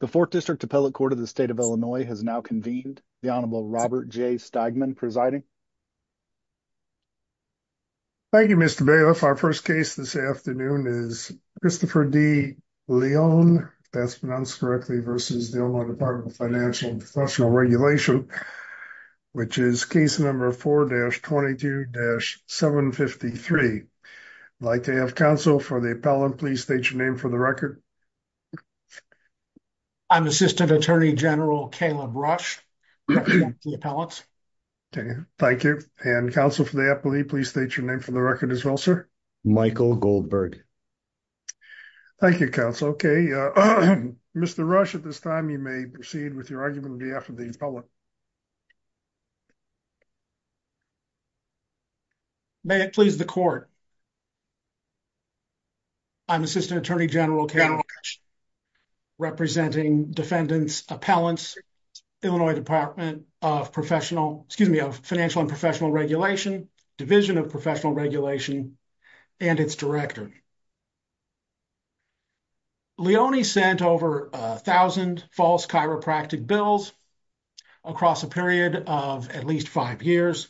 The 4th District Appellate Court of the State of Illinois has now convened. The Honorable Robert J. Steigman presiding. Thank you, Mr. Bailiff. Our first case this afternoon is Christopher D. Leone, if that's pronounced correctly, versus the Illinois Department of Financial & Professional Regulation, which is case number 4-22-753. I'd like to have counsel for the appellant. Please state your name for the record. I'm Assistant Attorney General Caleb Rush, representing the appellants. Thank you. And counsel for the appellee, please state your name for the record as well, sir. Michael Goldberg. Thank you, counsel. Okay, Mr. Rush, at this time you may proceed with your argument on behalf of the appellant. May it please the court. I'm Assistant Attorney General Caleb Rush, representing defendants, appellants, Illinois Department of Professional, excuse me, of Financial & Professional Regulation, Division of Professional Regulation, and its director. Leone sent over 1,000 false chiropractic bills across a period of at least five years,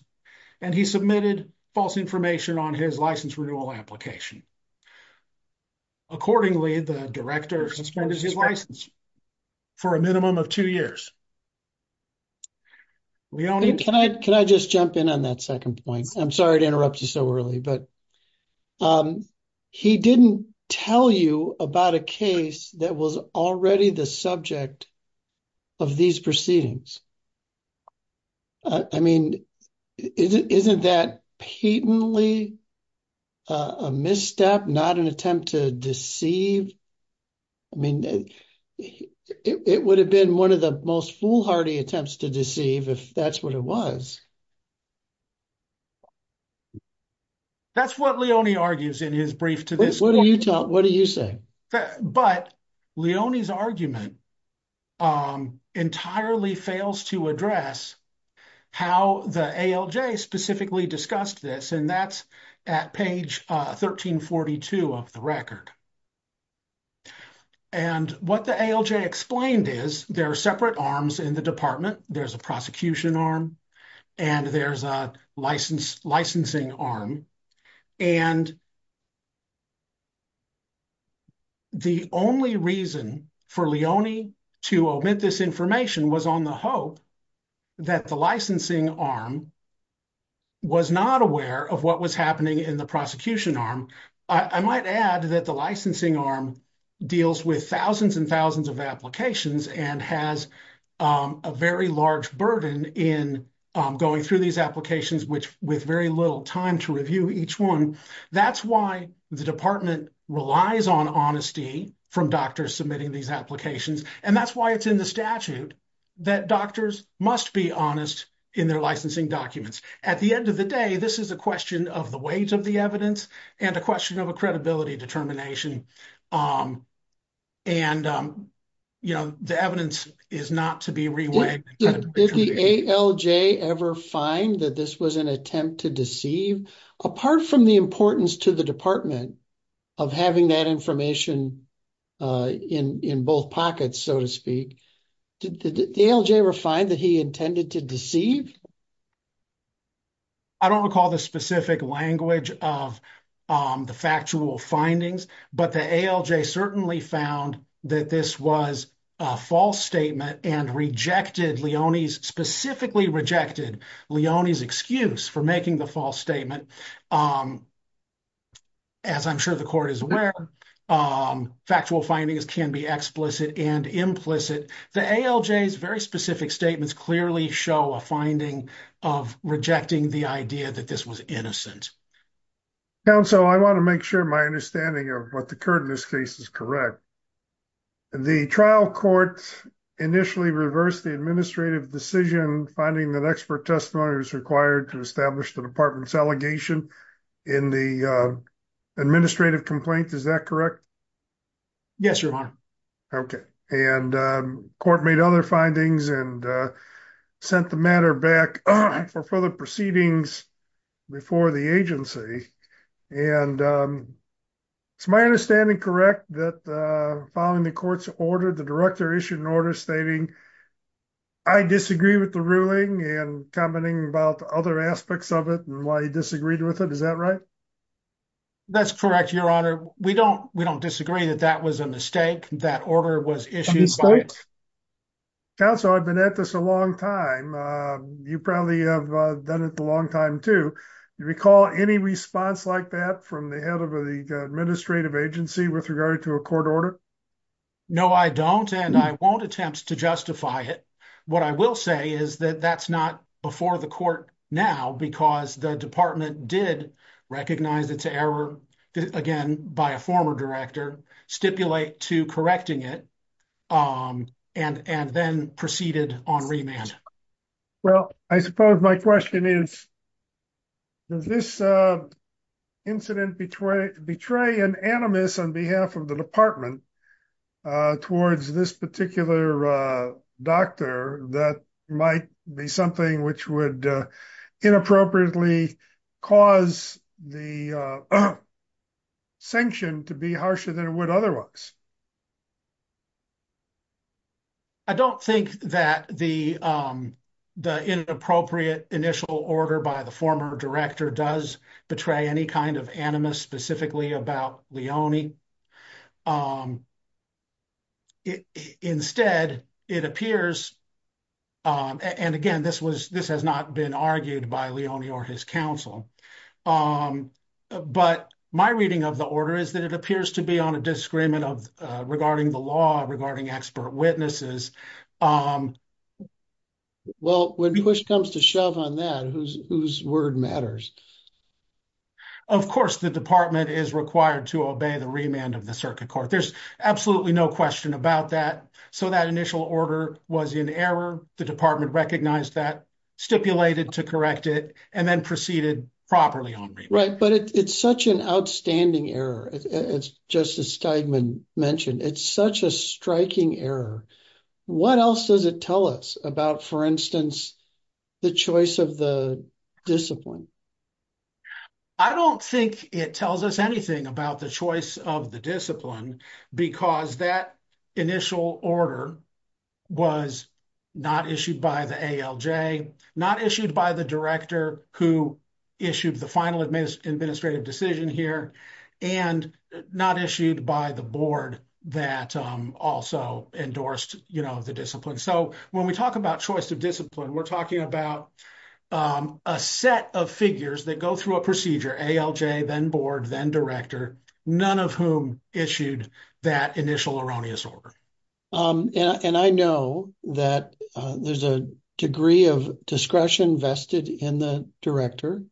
and he submitted false information on his license renewal application. Accordingly, the director suspended his license for a minimum of two years. Leone? Can I just jump in on that second point? I'm sorry to interrupt you so early, but he didn't tell you about a case that was already the subject of these proceedings. I mean, isn't that patently a misstep, not an attempt to deceive? I mean, it would have been one of the most foolhardy attempts to deceive if that's what it was. That's what Leone argues in his brief to this court. What do you say? But Leone's argument entirely fails to address how the ALJ specifically discussed this, and that's at page 1342 of the record. And what the ALJ explained is there are separate arms in the department. There's a prosecution arm, and there's a licensing arm, and the only reason for Leone to omit this information was on the hope that the licensing arm was not aware of what was happening in the prosecution arm. I might add that the licensing arm deals with thousands and thousands of applications and has a very large burden in going through these applications with very little time to review each one. That's why the department relies on honesty from doctors submitting these applications, and that's why it's in the statute that doctors must be honest in their licensing documents. At the end of the day, this is a question of the weight of the evidence and a question of a credibility determination, and the evidence is not to be reweighed. Did the ALJ ever find that this was an attempt to deceive? Apart from the importance to the department of having that information in both pockets, so to speak, did the ALJ ever find that he intended to deceive? I don't recall the specific language of the factual findings, but the ALJ certainly found that this was a false statement and rejected Leone's, specifically rejected Leone's excuse for making the false statement. As I'm sure the court is aware, factual findings can be explicit and implicit. The ALJ's very specific statements clearly show a finding of rejecting the idea that this was innocent. Counsel, I want to make sure my understanding of what occurred in this case is correct. The trial court initially reversed the administrative decision finding that expert testimony was required to establish the department's allegation in the administrative complaint. Is that correct? Yes, Your Honor. Okay. And court made other findings and sent the matter back for further proceedings before the agency. And is my understanding correct that following the court's order, the director issued an order stating, I disagree with the ruling and commenting about other aspects of it and why he disagreed with it. Is that right? That's correct, Your Honor. We don't, we don't disagree that that was a mistake. That order was issued. Counsel, I've been at this a long time. You probably have done it a long time too. You recall any response like that from the head of the administrative agency with regard to a court order? No, I don't. And I won't attempt to justify it. What I will say is that that's not before the court now because the department did recognize its error again by a former director, stipulate to correcting it, and then proceeded on remand. Well, I suppose my question is, does this incident betray an animus on behalf of the department towards this particular doctor that might be something which would inappropriately cause the sanction to be harsher than it would otherwise? I don't think that the inappropriate initial order by the former director does betray any kind of animus specifically about Leone. Instead, it appears, and again, this was, this has not been argued by Leone or his counsel. But my reading of the order is that it appears to be on a disagreement regarding the law, regarding expert witnesses. Well, when push comes to shove on that, whose word matters? Of course, the department is required to obey the remand of the circuit court. There's absolutely no question about that. So that initial order was in error. The department recognized that, stipulated to correct it, and then proceeded properly on remand. Right, but it's such an outstanding error, as Justice Steigman mentioned. It's such a striking error. What else does it tell us about, for instance, the choice of the discipline? I don't think it tells us anything about the choice of the discipline, because that initial order was not issued by the ALJ, not issued by the director who issued the final administrative decision here, and not issued by the board that also endorsed the discipline. So, when we talk about choice of discipline, we're talking about a set of figures that go through a procedure, ALJ, then board, then director, none of whom issued that initial erroneous order. And I know that there's a degree of discretion vested in the director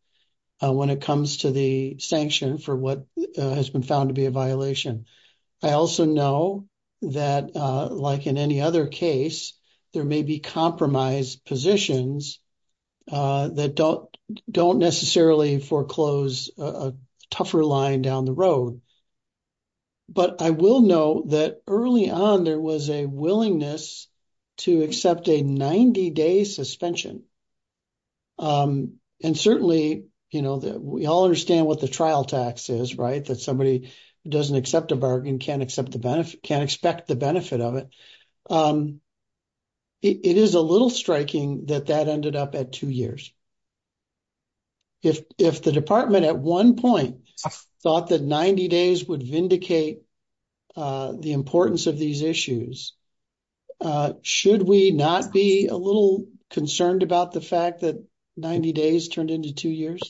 when it comes to the sanction for what has been found to be a violation. I also know that, like in any other case, there may be compromise positions that don't necessarily foreclose a tougher line down the road. But I will know that early on, there was a willingness to accept a 90-day suspension. And certainly, we all understand what the trial tax is, right? That somebody who doesn't accept a bargain can't expect the benefit of it. It is a little striking that that ended up at two years. If the department at one point thought that 90 days would vindicate the importance of these issues, should we not be a little concerned about the fact that 90 days turned into two years?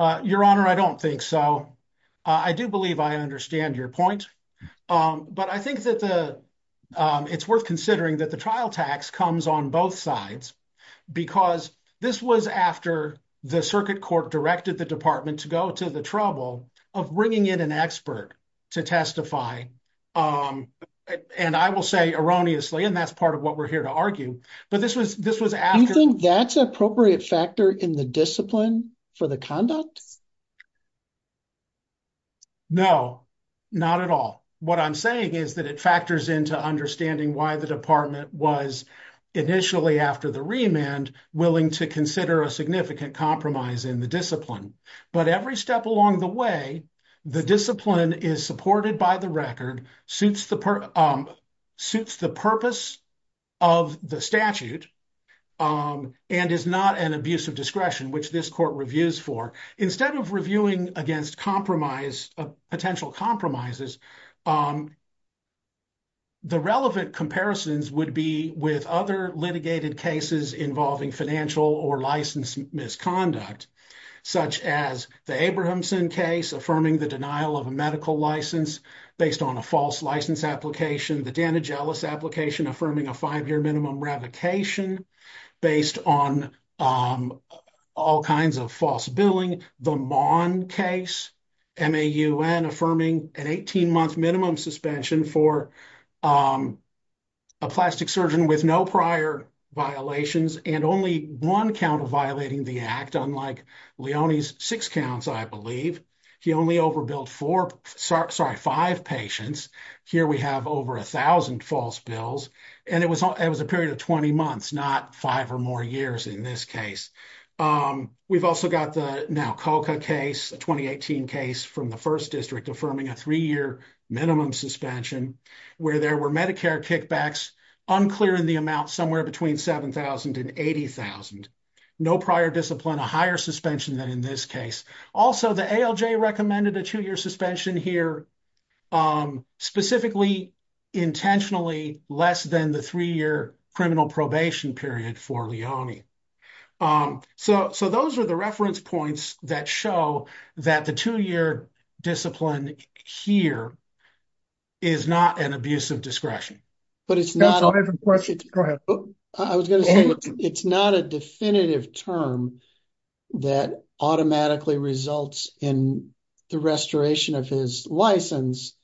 Your Honor, I don't think so. I do believe I understand your point. But I think that it's worth considering that the trial tax comes on both sides. Because this was after the circuit court directed the department to go to the trouble of bringing in an expert to testify. And I will say erroneously, and that's part of what we're here to argue. Do you think that's an appropriate factor in the discipline for the conduct? No, not at all. What I'm saying is that it factors into understanding why the department was, initially after the remand, willing to consider a significant compromise in the discipline. But every step along the way, the discipline is supported by the record, suits the purpose of the statute, and is not an abuse of discretion, which this court reviews for. Instead of reviewing against potential compromises, the relevant comparisons would be with other litigated cases involving financial or license misconduct, such as the Abrahamson case affirming the denial of a medical license based on a false license application, the Danagelis application affirming a five-year minimum revocation based on all kinds of false billing, the Maughan case, MAUN affirming an 18-month minimum suspension for a plastic surgeon with no prior violations and only one count of violating the act, unlike Leone's six counts, I believe. He only overbilled five patients. Here we have over 1,000 false bills, and it was a period of 20 months, not five or more years in this case. We've also got the Naukoka case, a 2018 case from the First District affirming a three-year minimum suspension where there were Medicare kickbacks unclear in the amount somewhere between $7,000 and $80,000. No prior discipline, a higher suspension than in this case. Also, the ALJ recommended a two-year suspension here, specifically intentionally less than the three-year criminal probation period for Leone. So those are the reference points that show that the two-year discipline here is not an abuse of discretion. I was going to say, it's not a definitive term that automatically results in the restoration of his license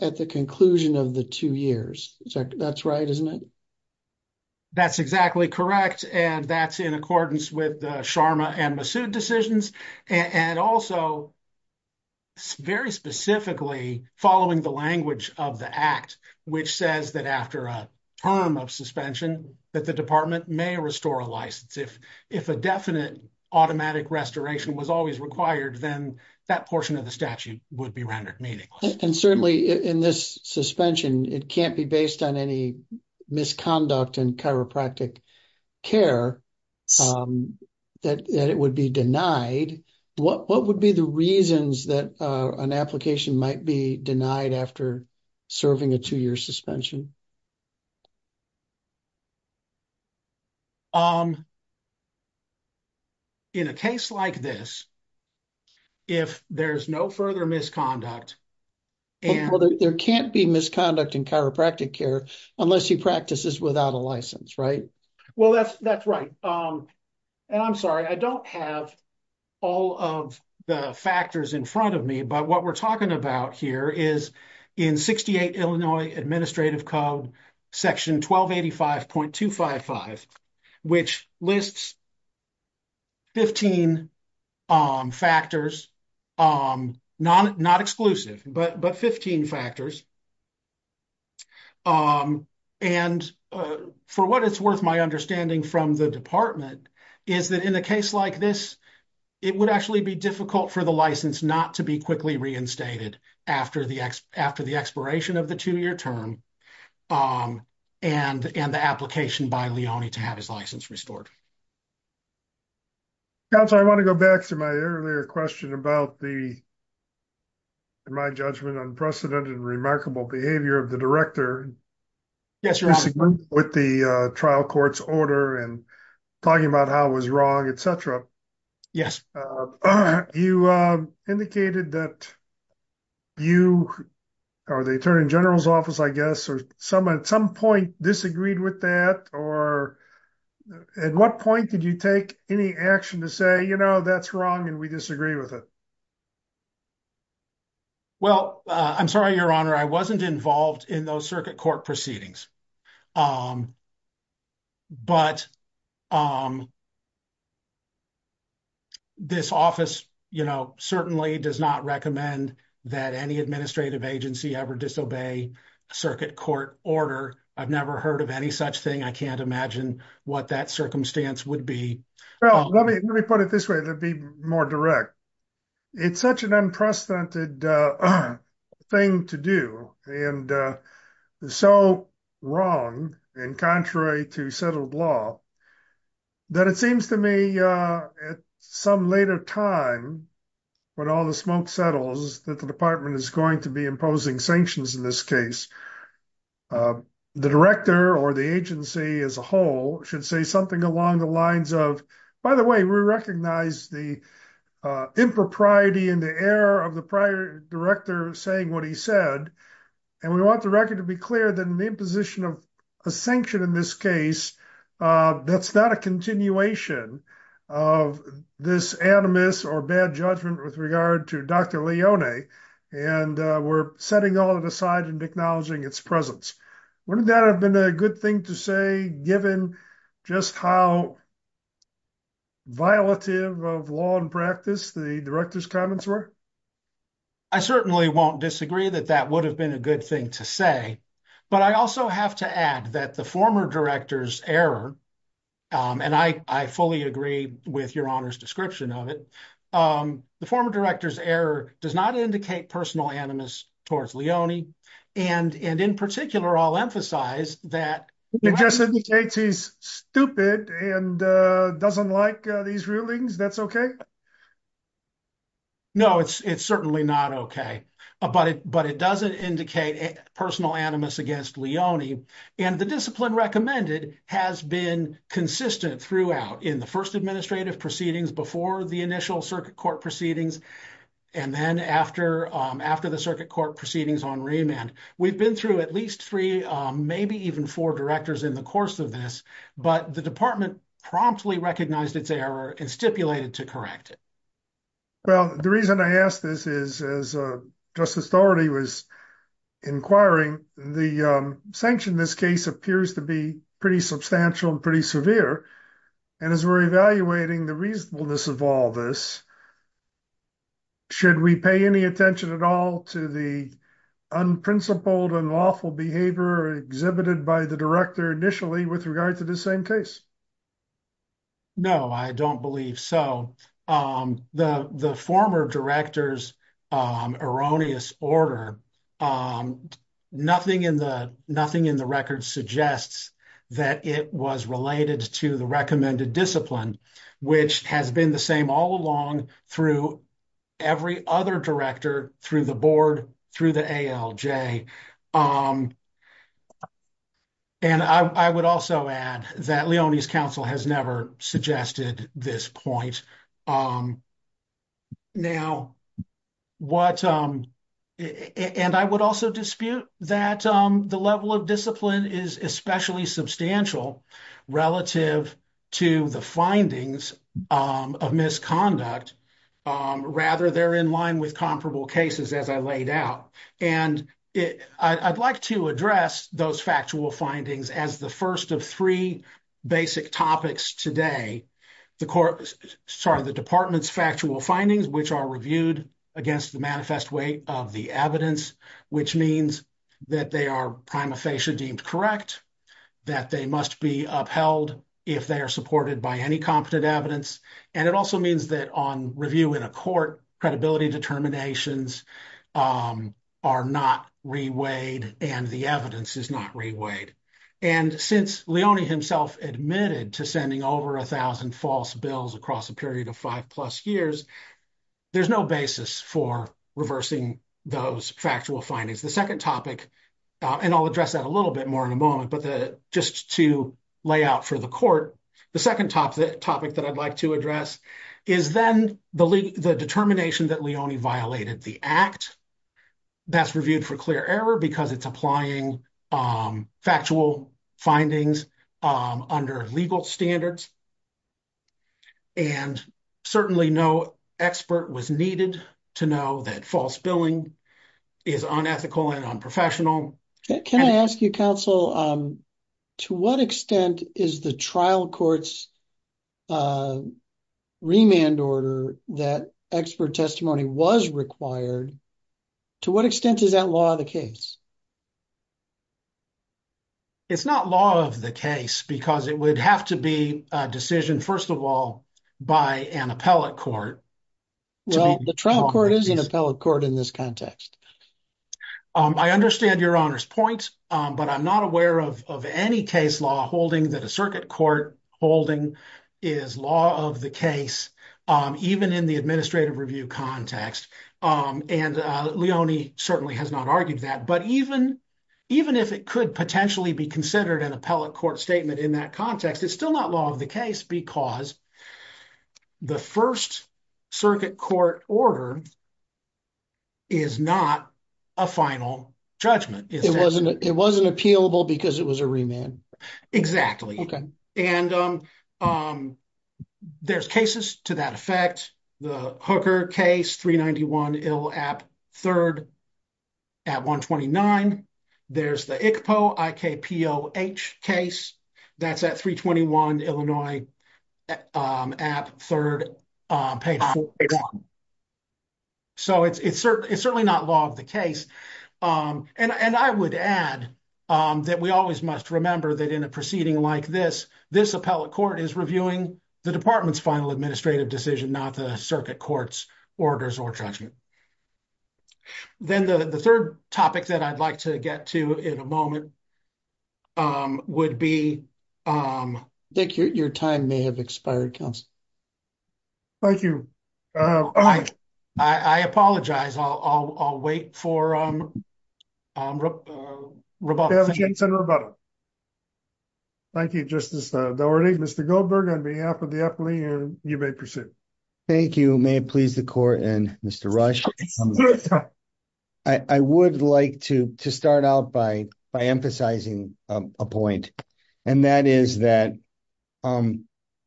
at the conclusion of the two years. That's right, isn't it? That's exactly correct, and that's in accordance with the Sharma and Massoud decisions. And also, very specifically, following the language of the act, which says that after a term of suspension, that the department may restore a license. If a definite automatic restoration was always required, then that portion of the statute would be rendered meaningless. And certainly in this suspension, it can't be based on any misconduct in chiropractic care that it would be denied. What would be the reasons that an application might be denied after serving a two-year suspension? In a case like this, if there's no further misconduct... Well, there can't be misconduct in chiropractic care unless he practices without a license, right? Well, that's right. And I'm sorry, I don't have all of the factors in front of me. But what we're talking about here is in 68 Illinois Administrative Code, Section 1285.255, which lists 15 factors. Not exclusive, but 15 factors. And for what it's worth, my understanding from the department is that in a case like this, it would actually be difficult for the license not to be quickly reinstated after the expiration of the two-year term and the application by Leone to have his license restored. Counselor, I want to go back to my earlier question about the, in my judgment, unprecedented and remarkable behavior of the director. Yes, Your Honor. Disagreeing with the trial court's order and talking about how it was wrong, etc. Yes. You indicated that you, or the Attorney General's office, I guess, at some point disagreed with that. Or at what point did you take any action to say, you know, that's wrong and we disagree with it? Well, I'm sorry, Your Honor, I wasn't involved in those circuit court proceedings. But this office, you know, certainly does not recommend that any administrative agency ever disobey a circuit court order. I've never heard of any such thing. I can't imagine what that circumstance would be. Well, let me put it this way, to be more direct. It's such an unprecedented thing to do. And so wrong, and contrary to settled law, that it seems to me at some later time, when all the smoke settles, that the department is going to be imposing sanctions in this case. The director or the agency as a whole should say something along the lines of, by the way, we recognize the impropriety and the error of the prior director saying what he said. And we want the record to be clear that an imposition of a sanction in this case, that's not a continuation of this animus or bad judgment with regard to Dr. Leone. And we're setting all that aside and acknowledging its presence. Wouldn't that have been a good thing to say, given just how violative of law and practice the director's comments were? I certainly won't disagree that that would have been a good thing to say. But I also have to add that the former director's error, and I fully agree with your Honor's description of it, the former director's error does not indicate personal animus towards Leone. And in particular, I'll emphasize that. It just indicates he's stupid and doesn't like these rulings. That's okay? No, it's certainly not okay. But it doesn't indicate personal animus against Leone. And the discipline recommended has been consistent throughout in the first administrative proceedings, before the initial circuit court proceedings, and then after the circuit court proceedings on remand. We've been through at least three, maybe even four directors in the course of this. But the department promptly recognized its error and stipulated to correct it. Well, the reason I ask this is, as Justice Dougherty was inquiring, the sanction in this case appears to be pretty substantial and pretty severe. And as we're evaluating the reasonableness of all this, should we pay any attention at all to the unprincipled and lawful behavior exhibited by the director initially with regard to the same case? No, I don't believe so. The former director's erroneous order, nothing in the record suggests that it was related to the recommended discipline, which has been the same all along through every other director, through the board, through the ALJ. And I would also add that Leone's counsel has never suggested this point. And I would also dispute that the level of discipline is especially substantial relative to the findings of misconduct. Rather, they're in line with comparable cases, as I laid out. And I'd like to address those factual findings as the first of three basic topics today. The department's factual findings, which are reviewed against the manifest weight of the evidence, which means that they are prima facie deemed correct, that they must be upheld if they are supported by any competent evidence. And it also means that on review in a court, credibility determinations are not reweighed and the evidence is not reweighed. And since Leone himself admitted to sending over a thousand false bills across a period of five plus years, there's no basis for reversing those factual findings. The second topic, and I'll address that a little bit more in a moment, but just to lay out for the court, the second topic that I'd like to address is then the determination that Leone violated the act that's reviewed for clear error because it's applying factual findings under legal standards. And certainly no expert was needed to know that false billing is unethical and unprofessional. Can I ask you, counsel, to what extent is the trial court's remand order that expert testimony was required, to what extent is that law of the case? It's not law of the case because it would have to be a decision, first of all, by an appellate court. Well, the trial court is an appellate court in this context. I understand Your Honor's point, but I'm not aware of any case law holding that a circuit court holding is law of the case, even in the administrative review context. And Leone certainly has not argued that, but even if it could potentially be considered an appellate court statement in that context, it's still not law of the case because the first circuit court order is not a final judgment. It wasn't appealable because it was a remand. Exactly. And there's cases to that effect. The Hooker case, 391 Ill App 3rd at 129. There's the ICPO, I-K-P-O-H case. That's at 321 Illinois App 3rd page 41. So it's certainly not law of the case. And I would add that we always must remember that in a proceeding like this, this appellate court is reviewing the department's final administrative decision, not the circuit court's orders or judgment. Then the third topic that I'd like to get to in a moment would be... Dick, your time may have expired, counsel. Thank you. I apologize. I'll wait for Roboto. Thank you, Justice Dougherty. Mr. Goldberg, on behalf of the appellee, you may proceed. Thank you. May it please the court. And Mr. Rush, I would like to start out by emphasizing a point. And that is that,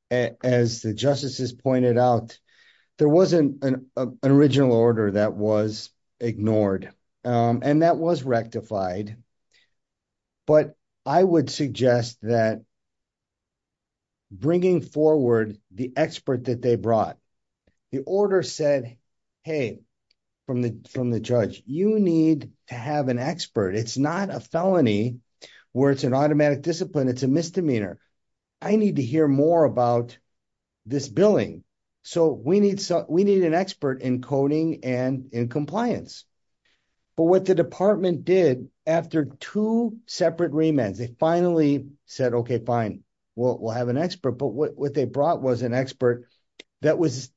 as the justices pointed out, there wasn't an original order that was ignored. And that was rectified. But I would suggest that bringing forward the expert that they brought, the order said, hey, from the judge, you need to have an expert. It's not a felony where it's an automatic discipline. It's a misdemeanor. I need to hear more about this billing. So we need an expert in coding and in compliance. But what the department did after two separate remands, they finally said, okay, fine, we'll have an expert. But what they brought was an expert that was...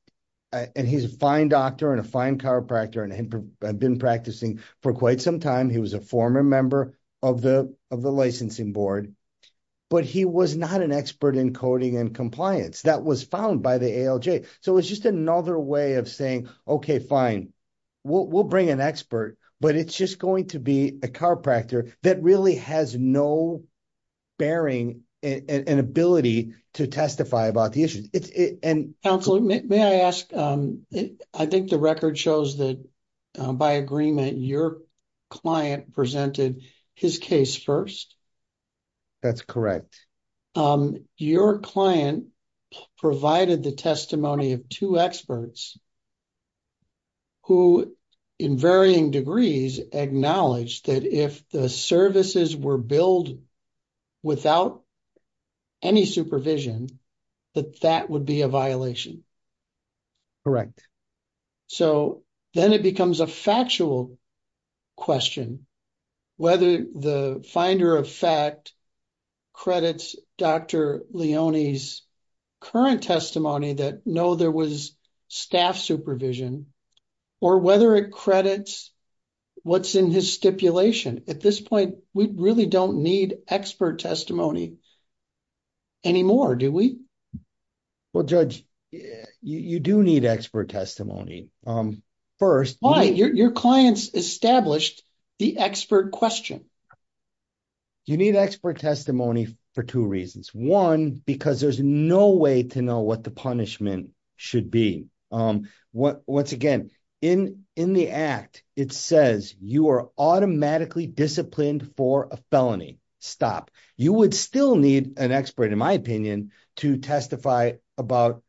And he's a fine doctor and a fine chiropractor and had been practicing for quite some time. He was a former member of the licensing board. But he was not an expert in coding and compliance. That was found by the ALJ. So it's just another way of saying, okay, fine, we'll bring an expert, but it's just going to be a chiropractor that really has no bearing and ability to testify about the issue. Counselor, may I ask, I think the record shows that by agreement, your client presented his case first. That's correct. Your client provided the testimony of two experts who, in varying degrees, acknowledged that if the services were billed without any supervision, that that would be a violation. Correct. So then it becomes a factual question, whether the finder of fact credits Dr. Leone's current testimony that, no, there was staff supervision, or whether it credits what's in his stipulation. At this point, we really don't need expert testimony anymore, do we? Well, Judge, you do need expert testimony. Why? Your client's established the expert question. You need expert testimony for two reasons. One, because there's no way to know what the punishment should be. Once again, in the act, it says you are automatically disciplined for a felony. Stop. You would still need an expert, in my opinion, to testify about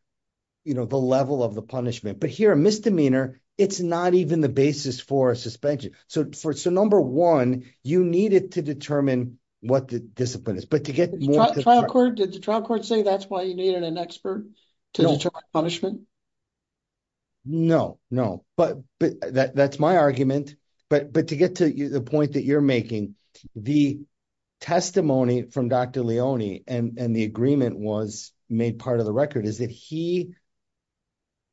the level of the punishment. But here, a misdemeanor, it's not even the basis for a suspension. So number one, you need it to determine what the discipline is. Did the trial court say that's why you needed an expert to determine punishment? No, no. But that's my argument. But to get to the point that you're making, the testimony from Dr. Leone and the agreement was made part of the record is that he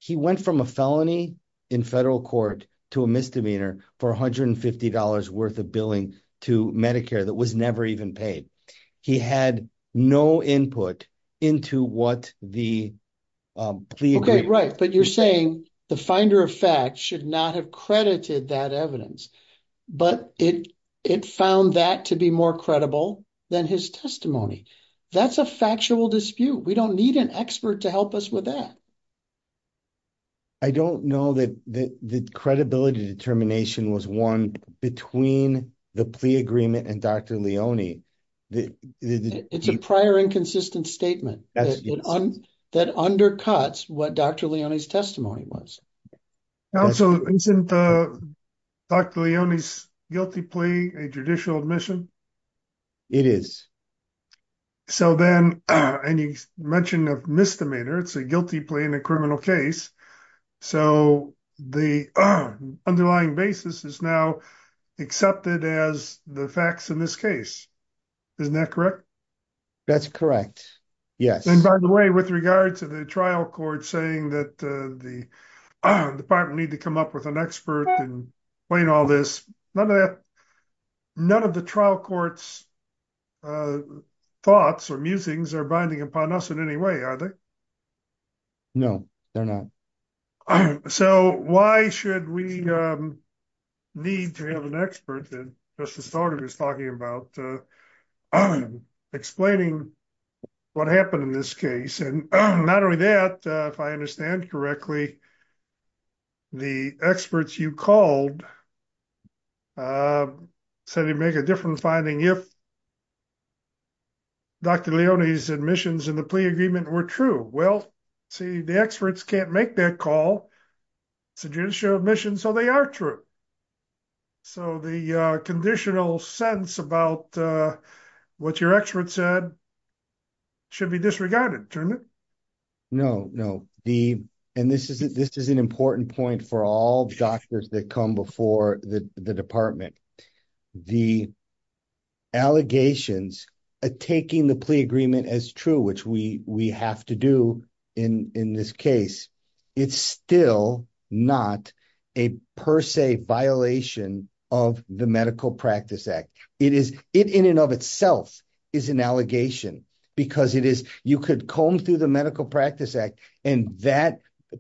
went from a felony in federal court to a misdemeanor for $150 worth of billing to Medicare that was never even paid. He had no input into what the plea agreement was. Right, but you're saying the finder of fact should not have credited that evidence, but it found that to be more credible than his testimony. That's a factual dispute. We don't need an expert to help us with that. I don't know that the credibility determination was won between the plea agreement and Dr. Leone. It's a prior inconsistent statement that undercuts what Dr. Leone's testimony was. Also, isn't Dr. Leone's guilty plea a judicial admission? It is. So then, and you mentioned a misdemeanor, it's a guilty plea in a criminal case. So the underlying basis is now accepted as the facts in this case. Isn't that correct? That's correct. Yes. And by the way, with regard to the trial court saying that the department need to come up with an expert and explain all this, none of the trial court's thoughts or musings are binding upon us in any way, are they? No, they're not. So why should we need to have an expert, as Mr. Staudt was talking about, explaining what happened in this case? And not only that, if I understand correctly, the experts you called said they'd make a different finding if Dr. Leone's admissions in the plea agreement were true. Well, see, the experts can't make that call. It's a judicial admission, so they are true. So the conditional sentence about what your expert said should be disregarded. No, no. And this is an important point for all doctors that come before the department. The allegations of taking the plea agreement as true, which we have to do in this case, it's still not a per se violation of the Medical Practice Act. It in and of itself is an allegation, because you could comb through the Medical Practice Act, and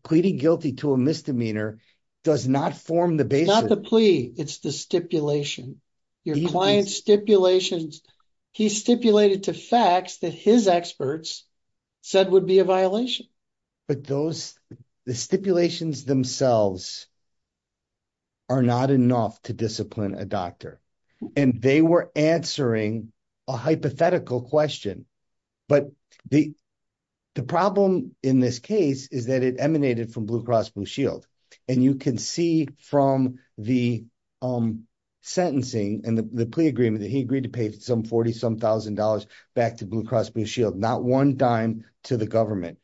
pleading guilty to a misdemeanor does not form the basis. It's not the plea, it's the stipulation. Your client's stipulations, he stipulated to facts that his experts said would be a violation. But the stipulations themselves are not enough to discipline a doctor. And they were answering a hypothetical question. But the problem in this case is that it emanated from Blue Cross Blue Shield. And you can see from the sentencing and the plea agreement that he agreed to pay some 40-some thousand dollars back to Blue Cross Blue Shield, not one dime to the government.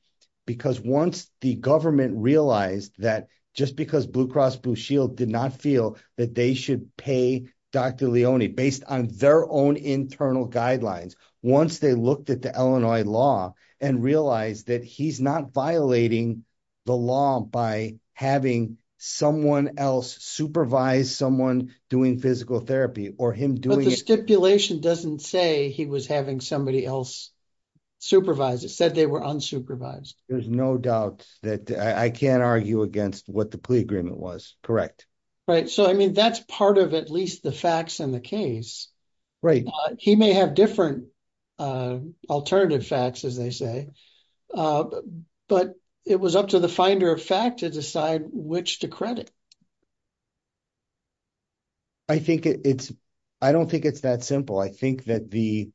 Because once the government realized that just because Blue Cross Blue Shield did not feel that they should pay Dr. Leone based on their own internal guidelines. Once they looked at the Illinois law and realized that he's not violating the law by having someone else supervise someone doing physical therapy or him doing it. But the stipulation doesn't say he was having somebody else supervise. It said they were unsupervised. There's no doubt that I can't argue against what the plea agreement was, correct. Right. So, I mean, that's part of at least the facts in the case. Right. He may have different alternative facts, as they say. But it was up to the finder of fact to decide which to credit. I think it's, I don't think it's that simple. I think that the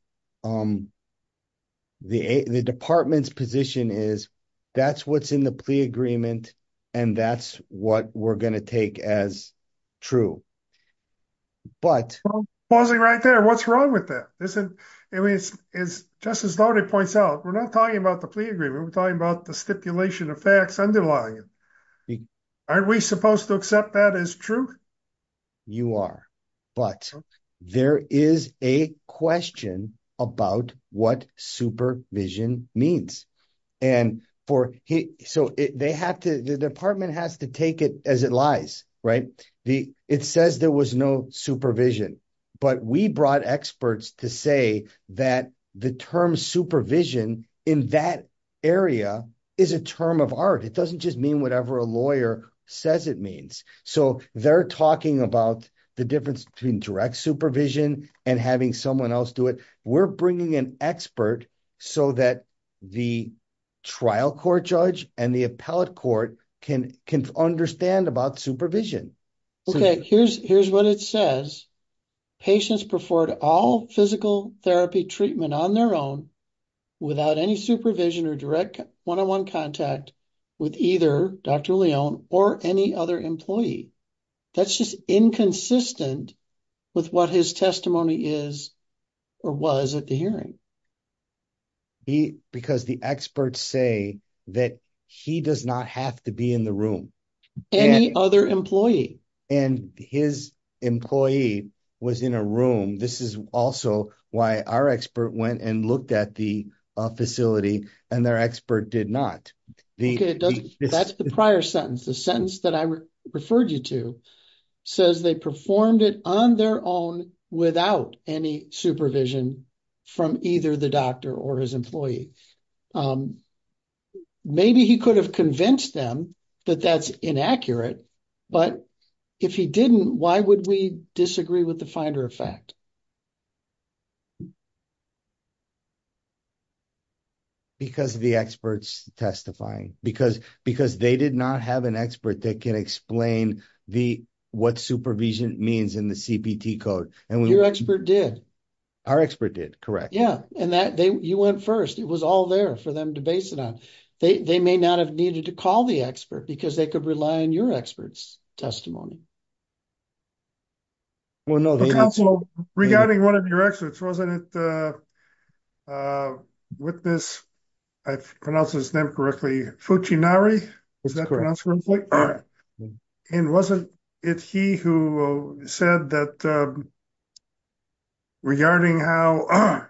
department's position is that's what's in the plea agreement. And that's what we're going to take as true. But... Pausing right there. What's wrong with that? It's just as Leone points out. We're not talking about the plea agreement. We're talking about the stipulation of facts underlying it. Aren't we supposed to accept that as true? You are. But there is a question about what supervision means. And for, so they have to, the department has to take it as it lies. Right. It says there was no supervision. But we brought experts to say that the term supervision in that area is a term of art. It doesn't just mean whatever a lawyer says it means. So they're talking about the difference between direct supervision and having someone else do it. We're bringing an expert so that the trial court judge and the appellate court can understand about supervision. Okay. Here's what it says. Patients preferred all physical therapy treatment on their own without any supervision or direct one-on-one contact with either Dr. Leone or any other employee. That's just inconsistent with what his testimony is or was at the hearing. Because the experts say that he does not have to be in the room. Any other employee. And his employee was in a room. This is also why our expert went and looked at the facility and their expert did not. That's the prior sentence. The sentence that I referred you to says they performed it on their own without any supervision from either the doctor or his employee. Maybe he could have convinced them that that's inaccurate. But if he didn't, why would we disagree with the Finder effect? Because of the experts testifying. Because they did not have an expert that can explain what supervision means in the CPT code. Your expert did. Our expert did. Correct. Yeah, and that you went first. It was all there for them to base it on. They may not have needed to call the expert because they could rely on your experts testimony. Regarding one of your experts, wasn't it? Witness. I pronounce his name correctly. Fuchi Nari. And wasn't it he who said that. Regarding how.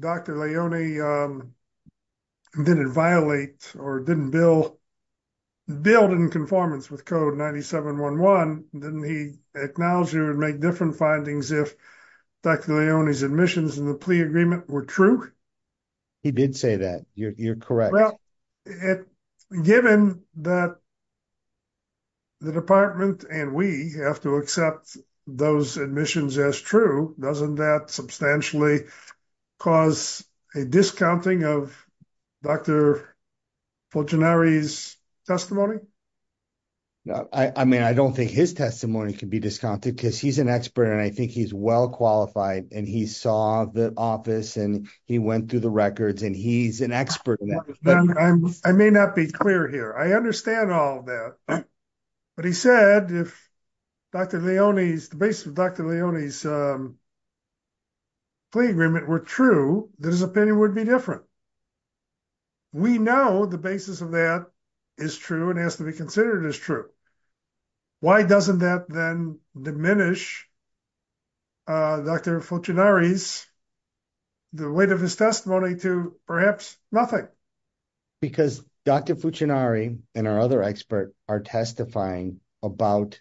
Dr. Leone. Didn't violate or didn't bill. Bill didn't conformance with code 9711. Didn't he acknowledge you would make different findings if Dr. Leone's admissions and the plea agreement were true. He did say that you're correct. Given that. That. The department and we have to accept those admissions as true. Doesn't that substantially cause a discounting of. Dr. Testimony. I mean, I don't think his testimony can be discounted because he's an expert and I think he's well qualified and he saw the office and he went through the records and he's an expert. I may not be clear here. I understand all that. But he said, if. Dr. Leone's the base of Dr. Leone's. Plea agreement were true. There's a penny would be different. We know the basis of that is true and has to be considered as true. Why doesn't that then diminish. Dr. The weight of his testimony to perhaps nothing. Because Dr. And our other expert are testifying about.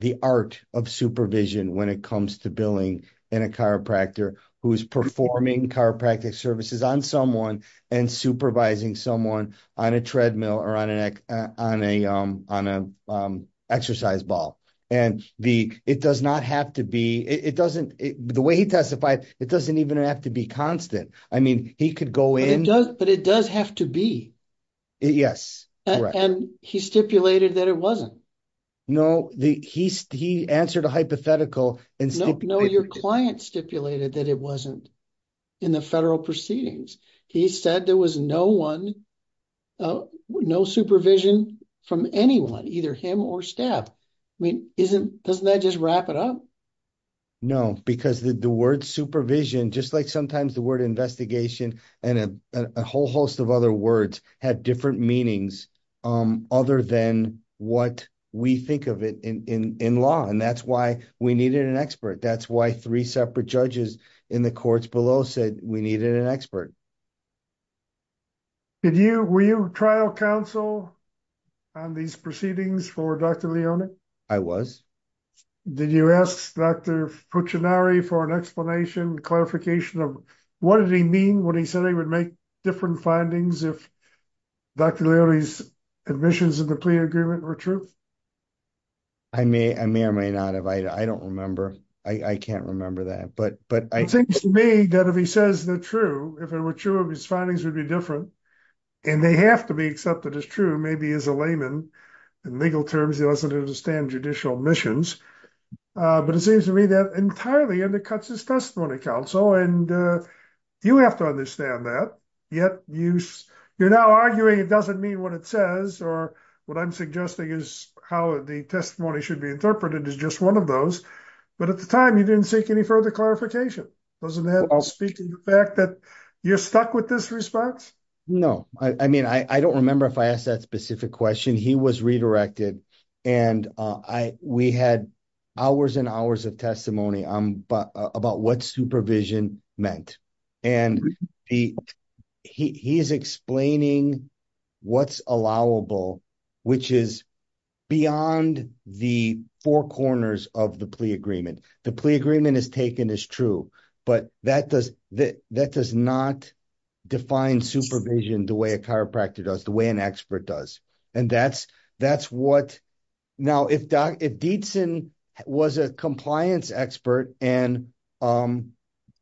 The art of supervision when it comes to billing and a chiropractor who's performing chiropractic services on someone and supervising someone on a treadmill or on an on a on a exercise ball. And the, it does not have to be, it doesn't the way he testified. It doesn't even have to be constant. I mean, he could go in, but it does have to be. Yes, and he stipulated that it wasn't. No, the, he, he answered a hypothetical and. No, your client stipulated that it wasn't. In the federal proceedings, he said there was no 1. No supervision from anyone, either him or staff. I mean, isn't doesn't that just wrap it up. No, because the word supervision, just like sometimes the word investigation and a whole host of other words had different meanings. Other than what we think of it in law and that's why we needed an expert. That's why three separate judges in the courts below said we needed an expert. Did you were you trial counsel on these proceedings for Dr. I was. Did you ask Dr. For an explanation clarification of what did he mean when he said he would make different findings if Dr. Admissions of the agreement were true. I may I may or may not have I don't remember. I can't remember that but but I think to me that if he says the true if it were true of his findings would be different. And they have to be accepted as true maybe as a layman and legal terms, he doesn't understand judicial missions. But it seems to me that entirely undercuts his testimony council and you have to understand that yet you You're now arguing it doesn't mean what it says or what I'm suggesting is how the testimony should be interpreted as just one of those. But at the time you didn't seek any further clarification. I'll speak to the fact that you're stuck with this response. No, I mean, I don't remember if I asked that specific question. He was redirected and I we had hours and hours of testimony. I'm about what supervision meant and He's explaining what's allowable, which is beyond the four corners of the plea agreement. The plea agreement is taken as true, but that does that that does not define supervision. The way a chiropractor does the way an expert does and that's that's what now. If if Dietzen was a compliance expert and I'm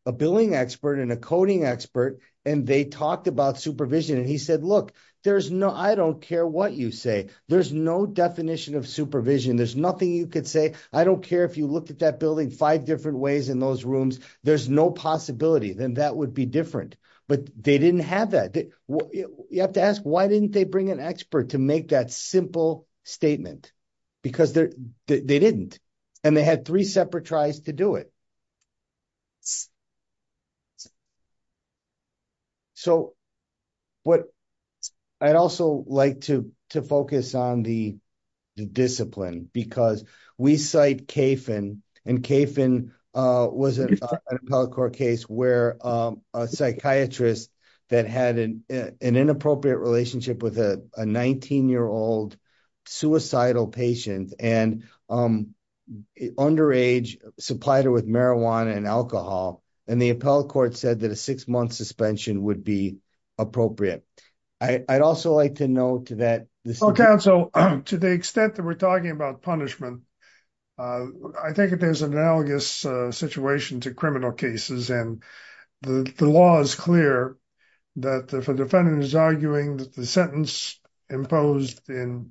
a billing expert and a coding expert and they talked about supervision and he said, look, there's no I don't care what you say. There's no definition of supervision. There's nothing you could say. I don't care if you look at that building five different ways in those rooms. There's no possibility then that would be different, but they didn't have that. You have to ask, why didn't they bring an expert to make that simple statement because they didn't and they had three separate tries to do it. So, What I'd also like to to focus on the discipline because we cite Kaifin and Kaifin was a Where a psychiatrist that had an inappropriate relationship with a 19 year old suicidal patient and underage supplier with marijuana and alcohol and the appellate court said that a six month suspension would be appropriate. I'd also like to know to that. So, to the extent that we're talking about punishment. I think it is analogous situation to criminal cases and the law is clear that the defendant is arguing that the sentence imposed in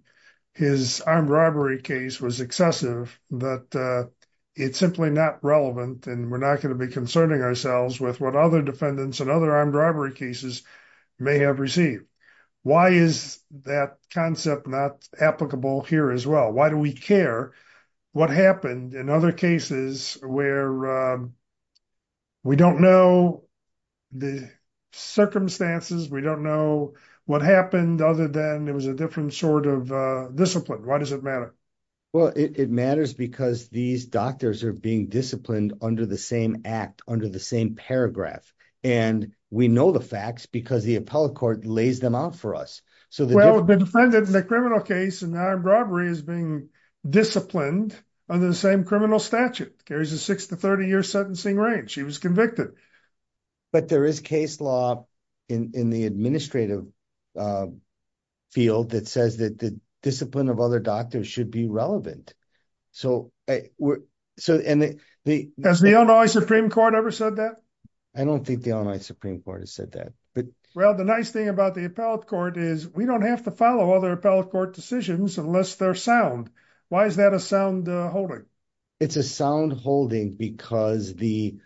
His armed robbery case was excessive that it's simply not relevant and we're not going to be concerning ourselves with what other defendants and other armed robbery cases may have received. Why is that concept not applicable here as well. Why do we care what happened in other cases where We don't know the circumstances. We don't know what happened, other than it was a different sort of discipline. Why does it matter. Well, it matters because these doctors are being disciplined under the same act under the same paragraph and we know the facts because the appellate court lays them out for us. Well, the defendant in the criminal case and armed robbery is being disciplined under the same criminal statute carries a six to 30 year sentencing range. He was convicted. But there is case law in the administrative Field that says that the discipline of other doctors should be relevant. So, so, and the As the Illinois Supreme Court ever said that I don't think the Illinois Supreme Court has said that, but Well, the nice thing about the appellate court is we don't have to follow other appellate court decisions, unless they're sound. Why is that a sound holding It's a sound holding because the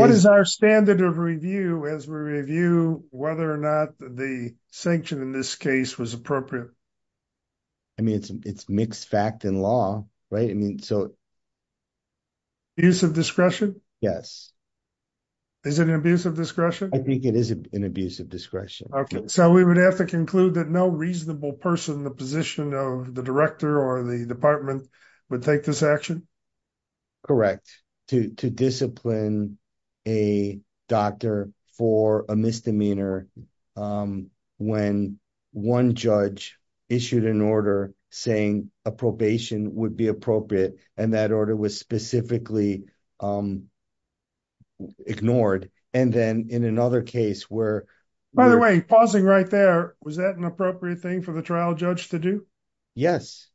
What is our standard of review as we review whether or not the sanction in this case was appropriate. I mean, it's it's mixed fact and law. Right. I mean, so Use of discretion. Yes. Is it an abuse of discretion. I think it is an abuse of discretion. Okay, so we would have to conclude that no reasonable person, the position of the director or the department would take this action. Correct to discipline a doctor for a misdemeanor. When one judge issued an order saying a probation would be appropriate and that order was specifically Ignored and then in another case where By the way, pausing right there. Was that an appropriate thing for the trial judge to do. Yes.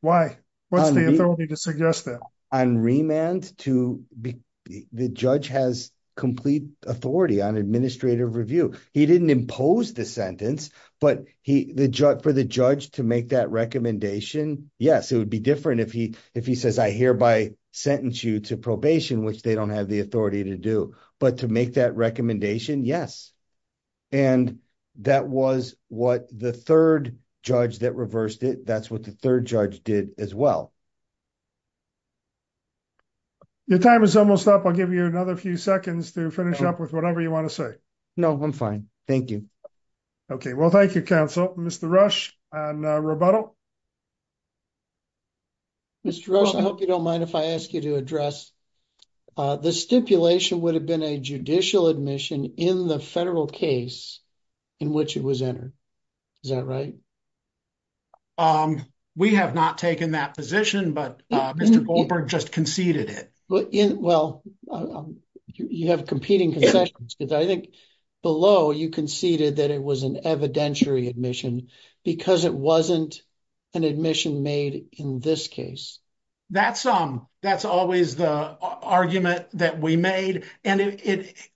Why What's the authority to suggest that on remand to The judge has complete authority on administrative review. He didn't impose the sentence, but he the judge for the judge to make that recommendation. Yes, it would be different if he if he says I hereby sentence you to probation, which they don't have the authority to do, but to make that recommendation. Yes. And that was what the 3rd judge that reversed it. That's what the 3rd judge did as well. Your time is almost up. I'll give you another few seconds to finish up with whatever you want to say. No, I'm fine. Thank you. Okay, well, thank you. Counsel Mr. Rush and rebuttal. Mr. Rush, I hope you don't mind if I ask you to address the stipulation would have been a judicial admission in the federal case in which it was entered. Is that right? We have not taken that position, but Mr. Goldberg just conceded it. Well, you have competing concessions because I think below you conceded that it was an evidentiary admission because it wasn't an admission made in this case. That's that's always the argument that we made, and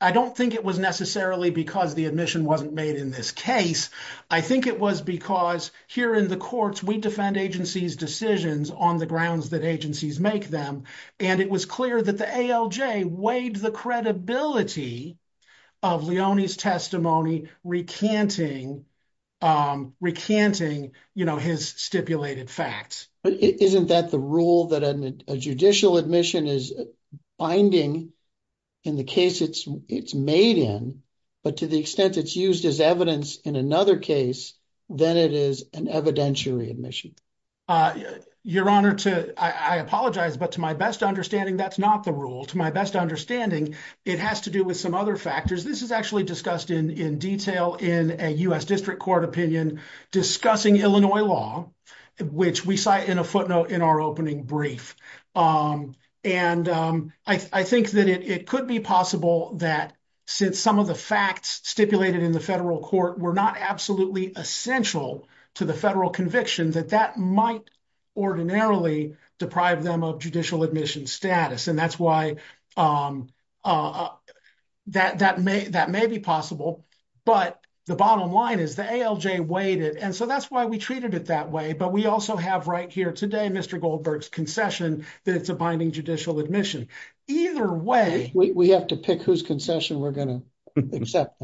I don't think it was necessarily because the admission wasn't made in this case. I think it was because here in the courts, we defend agencies decisions on the grounds that agencies make them. And it was clear that the ALJ weighed the credibility of Leone's testimony recanting recanting his stipulated facts. But isn't that the rule that a judicial admission is binding in the case? It's it's made in, but to the extent it's used as evidence in another case, then it is an evidentiary admission. Your honor to I apologize, but to my best understanding, that's not the rule to my best understanding. It has to do with some other factors. This is actually discussed in detail in a U.S. district court opinion discussing Illinois law, which we cite in a footnote in our opening brief. And I think that it could be possible that since some of the facts stipulated in the federal court were not absolutely essential to the federal conviction that that might ordinarily deprive them of judicial admission status. And that's why that that may that may be possible. But the bottom line is the ALJ weighted. And so that's why we treated it that way. But we also have right here today, Mr. Goldberg's concession that it's a binding judicial admission. Either way, we have to pick whose concession we're going to accept.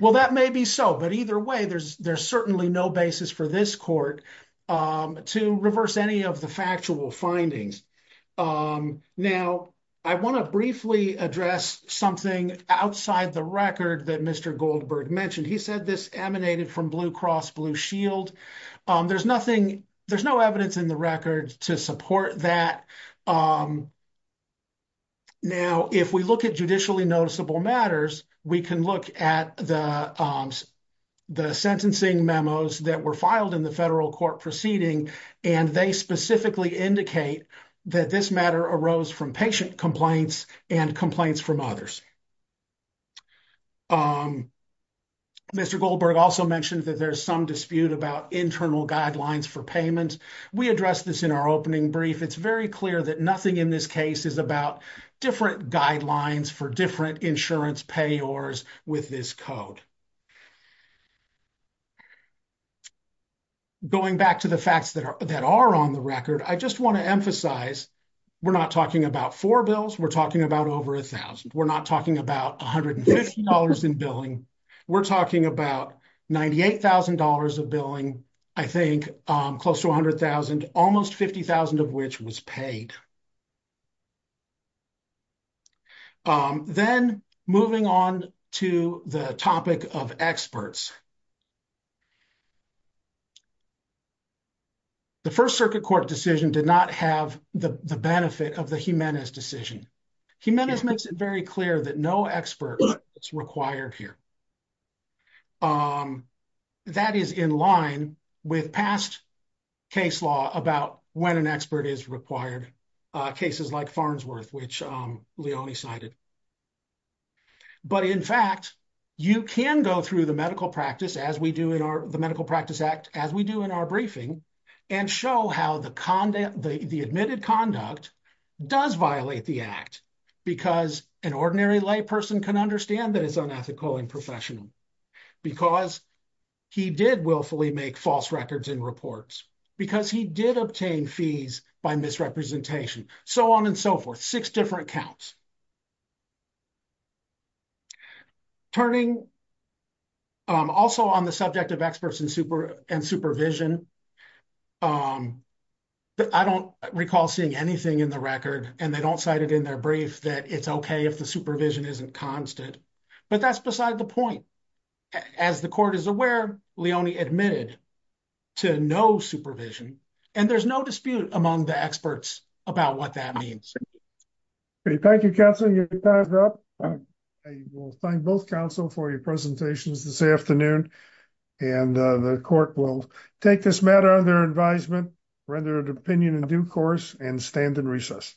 Well, that may be so, but either way, there's there's certainly no basis for this court to reverse any of the factual findings. Now, I want to briefly address something outside the record that Mr. Goldberg mentioned. He said this emanated from Blue Cross Blue Shield. There's nothing. There's no evidence in the record to support that. Now, if we look at judicially noticeable matters, we can look at the sentencing memos that were filed in the federal court proceeding, and they specifically indicate that this matter arose from patient complaints and complaints from others. Mr. Goldberg also mentioned that there's some dispute about internal guidelines for payment. We addressed this in our opening brief. It's very clear that nothing in this case is about different guidelines for different insurance payors with this code. Going back to the facts that are that are on the record, I just want to emphasize, we're not talking about four bills. We're talking about over a thousand. We're not talking about $150 in billing. We're talking about $98,000 of billing. I think close to 100,000, almost 50,000 of which was paid. Then, moving on to the topic of experts, the First Circuit Court decision did not have the benefit of the Jimenez decision. Jimenez makes it very clear that no expert is required here. That is in line with past case law about when an expert is required, cases like Farnsworth, which Leonie cited. In fact, you can go through the Medical Practice Act, as we do in our briefing, and show how the admitted conduct does violate the Act, because an ordinary layperson can understand that it's unethical and professional, because he did willfully make false records and reports, because he did obtain fees by misrepresentation. So on and so forth, six different counts. Turning also on the subject of experts and supervision, I don't recall seeing anything in the record, and they don't cite it in their brief that it's okay if the supervision isn't constant. But that's beside the point. As the Court is aware, Leonie admitted to no supervision, and there's no dispute among the experts about what that means. Thank you, Counselor. You're timed up. I will thank both Counsel for your presentations this afternoon, and the Court will take this matter under advisement, render it opinion in due course, and stand in recess.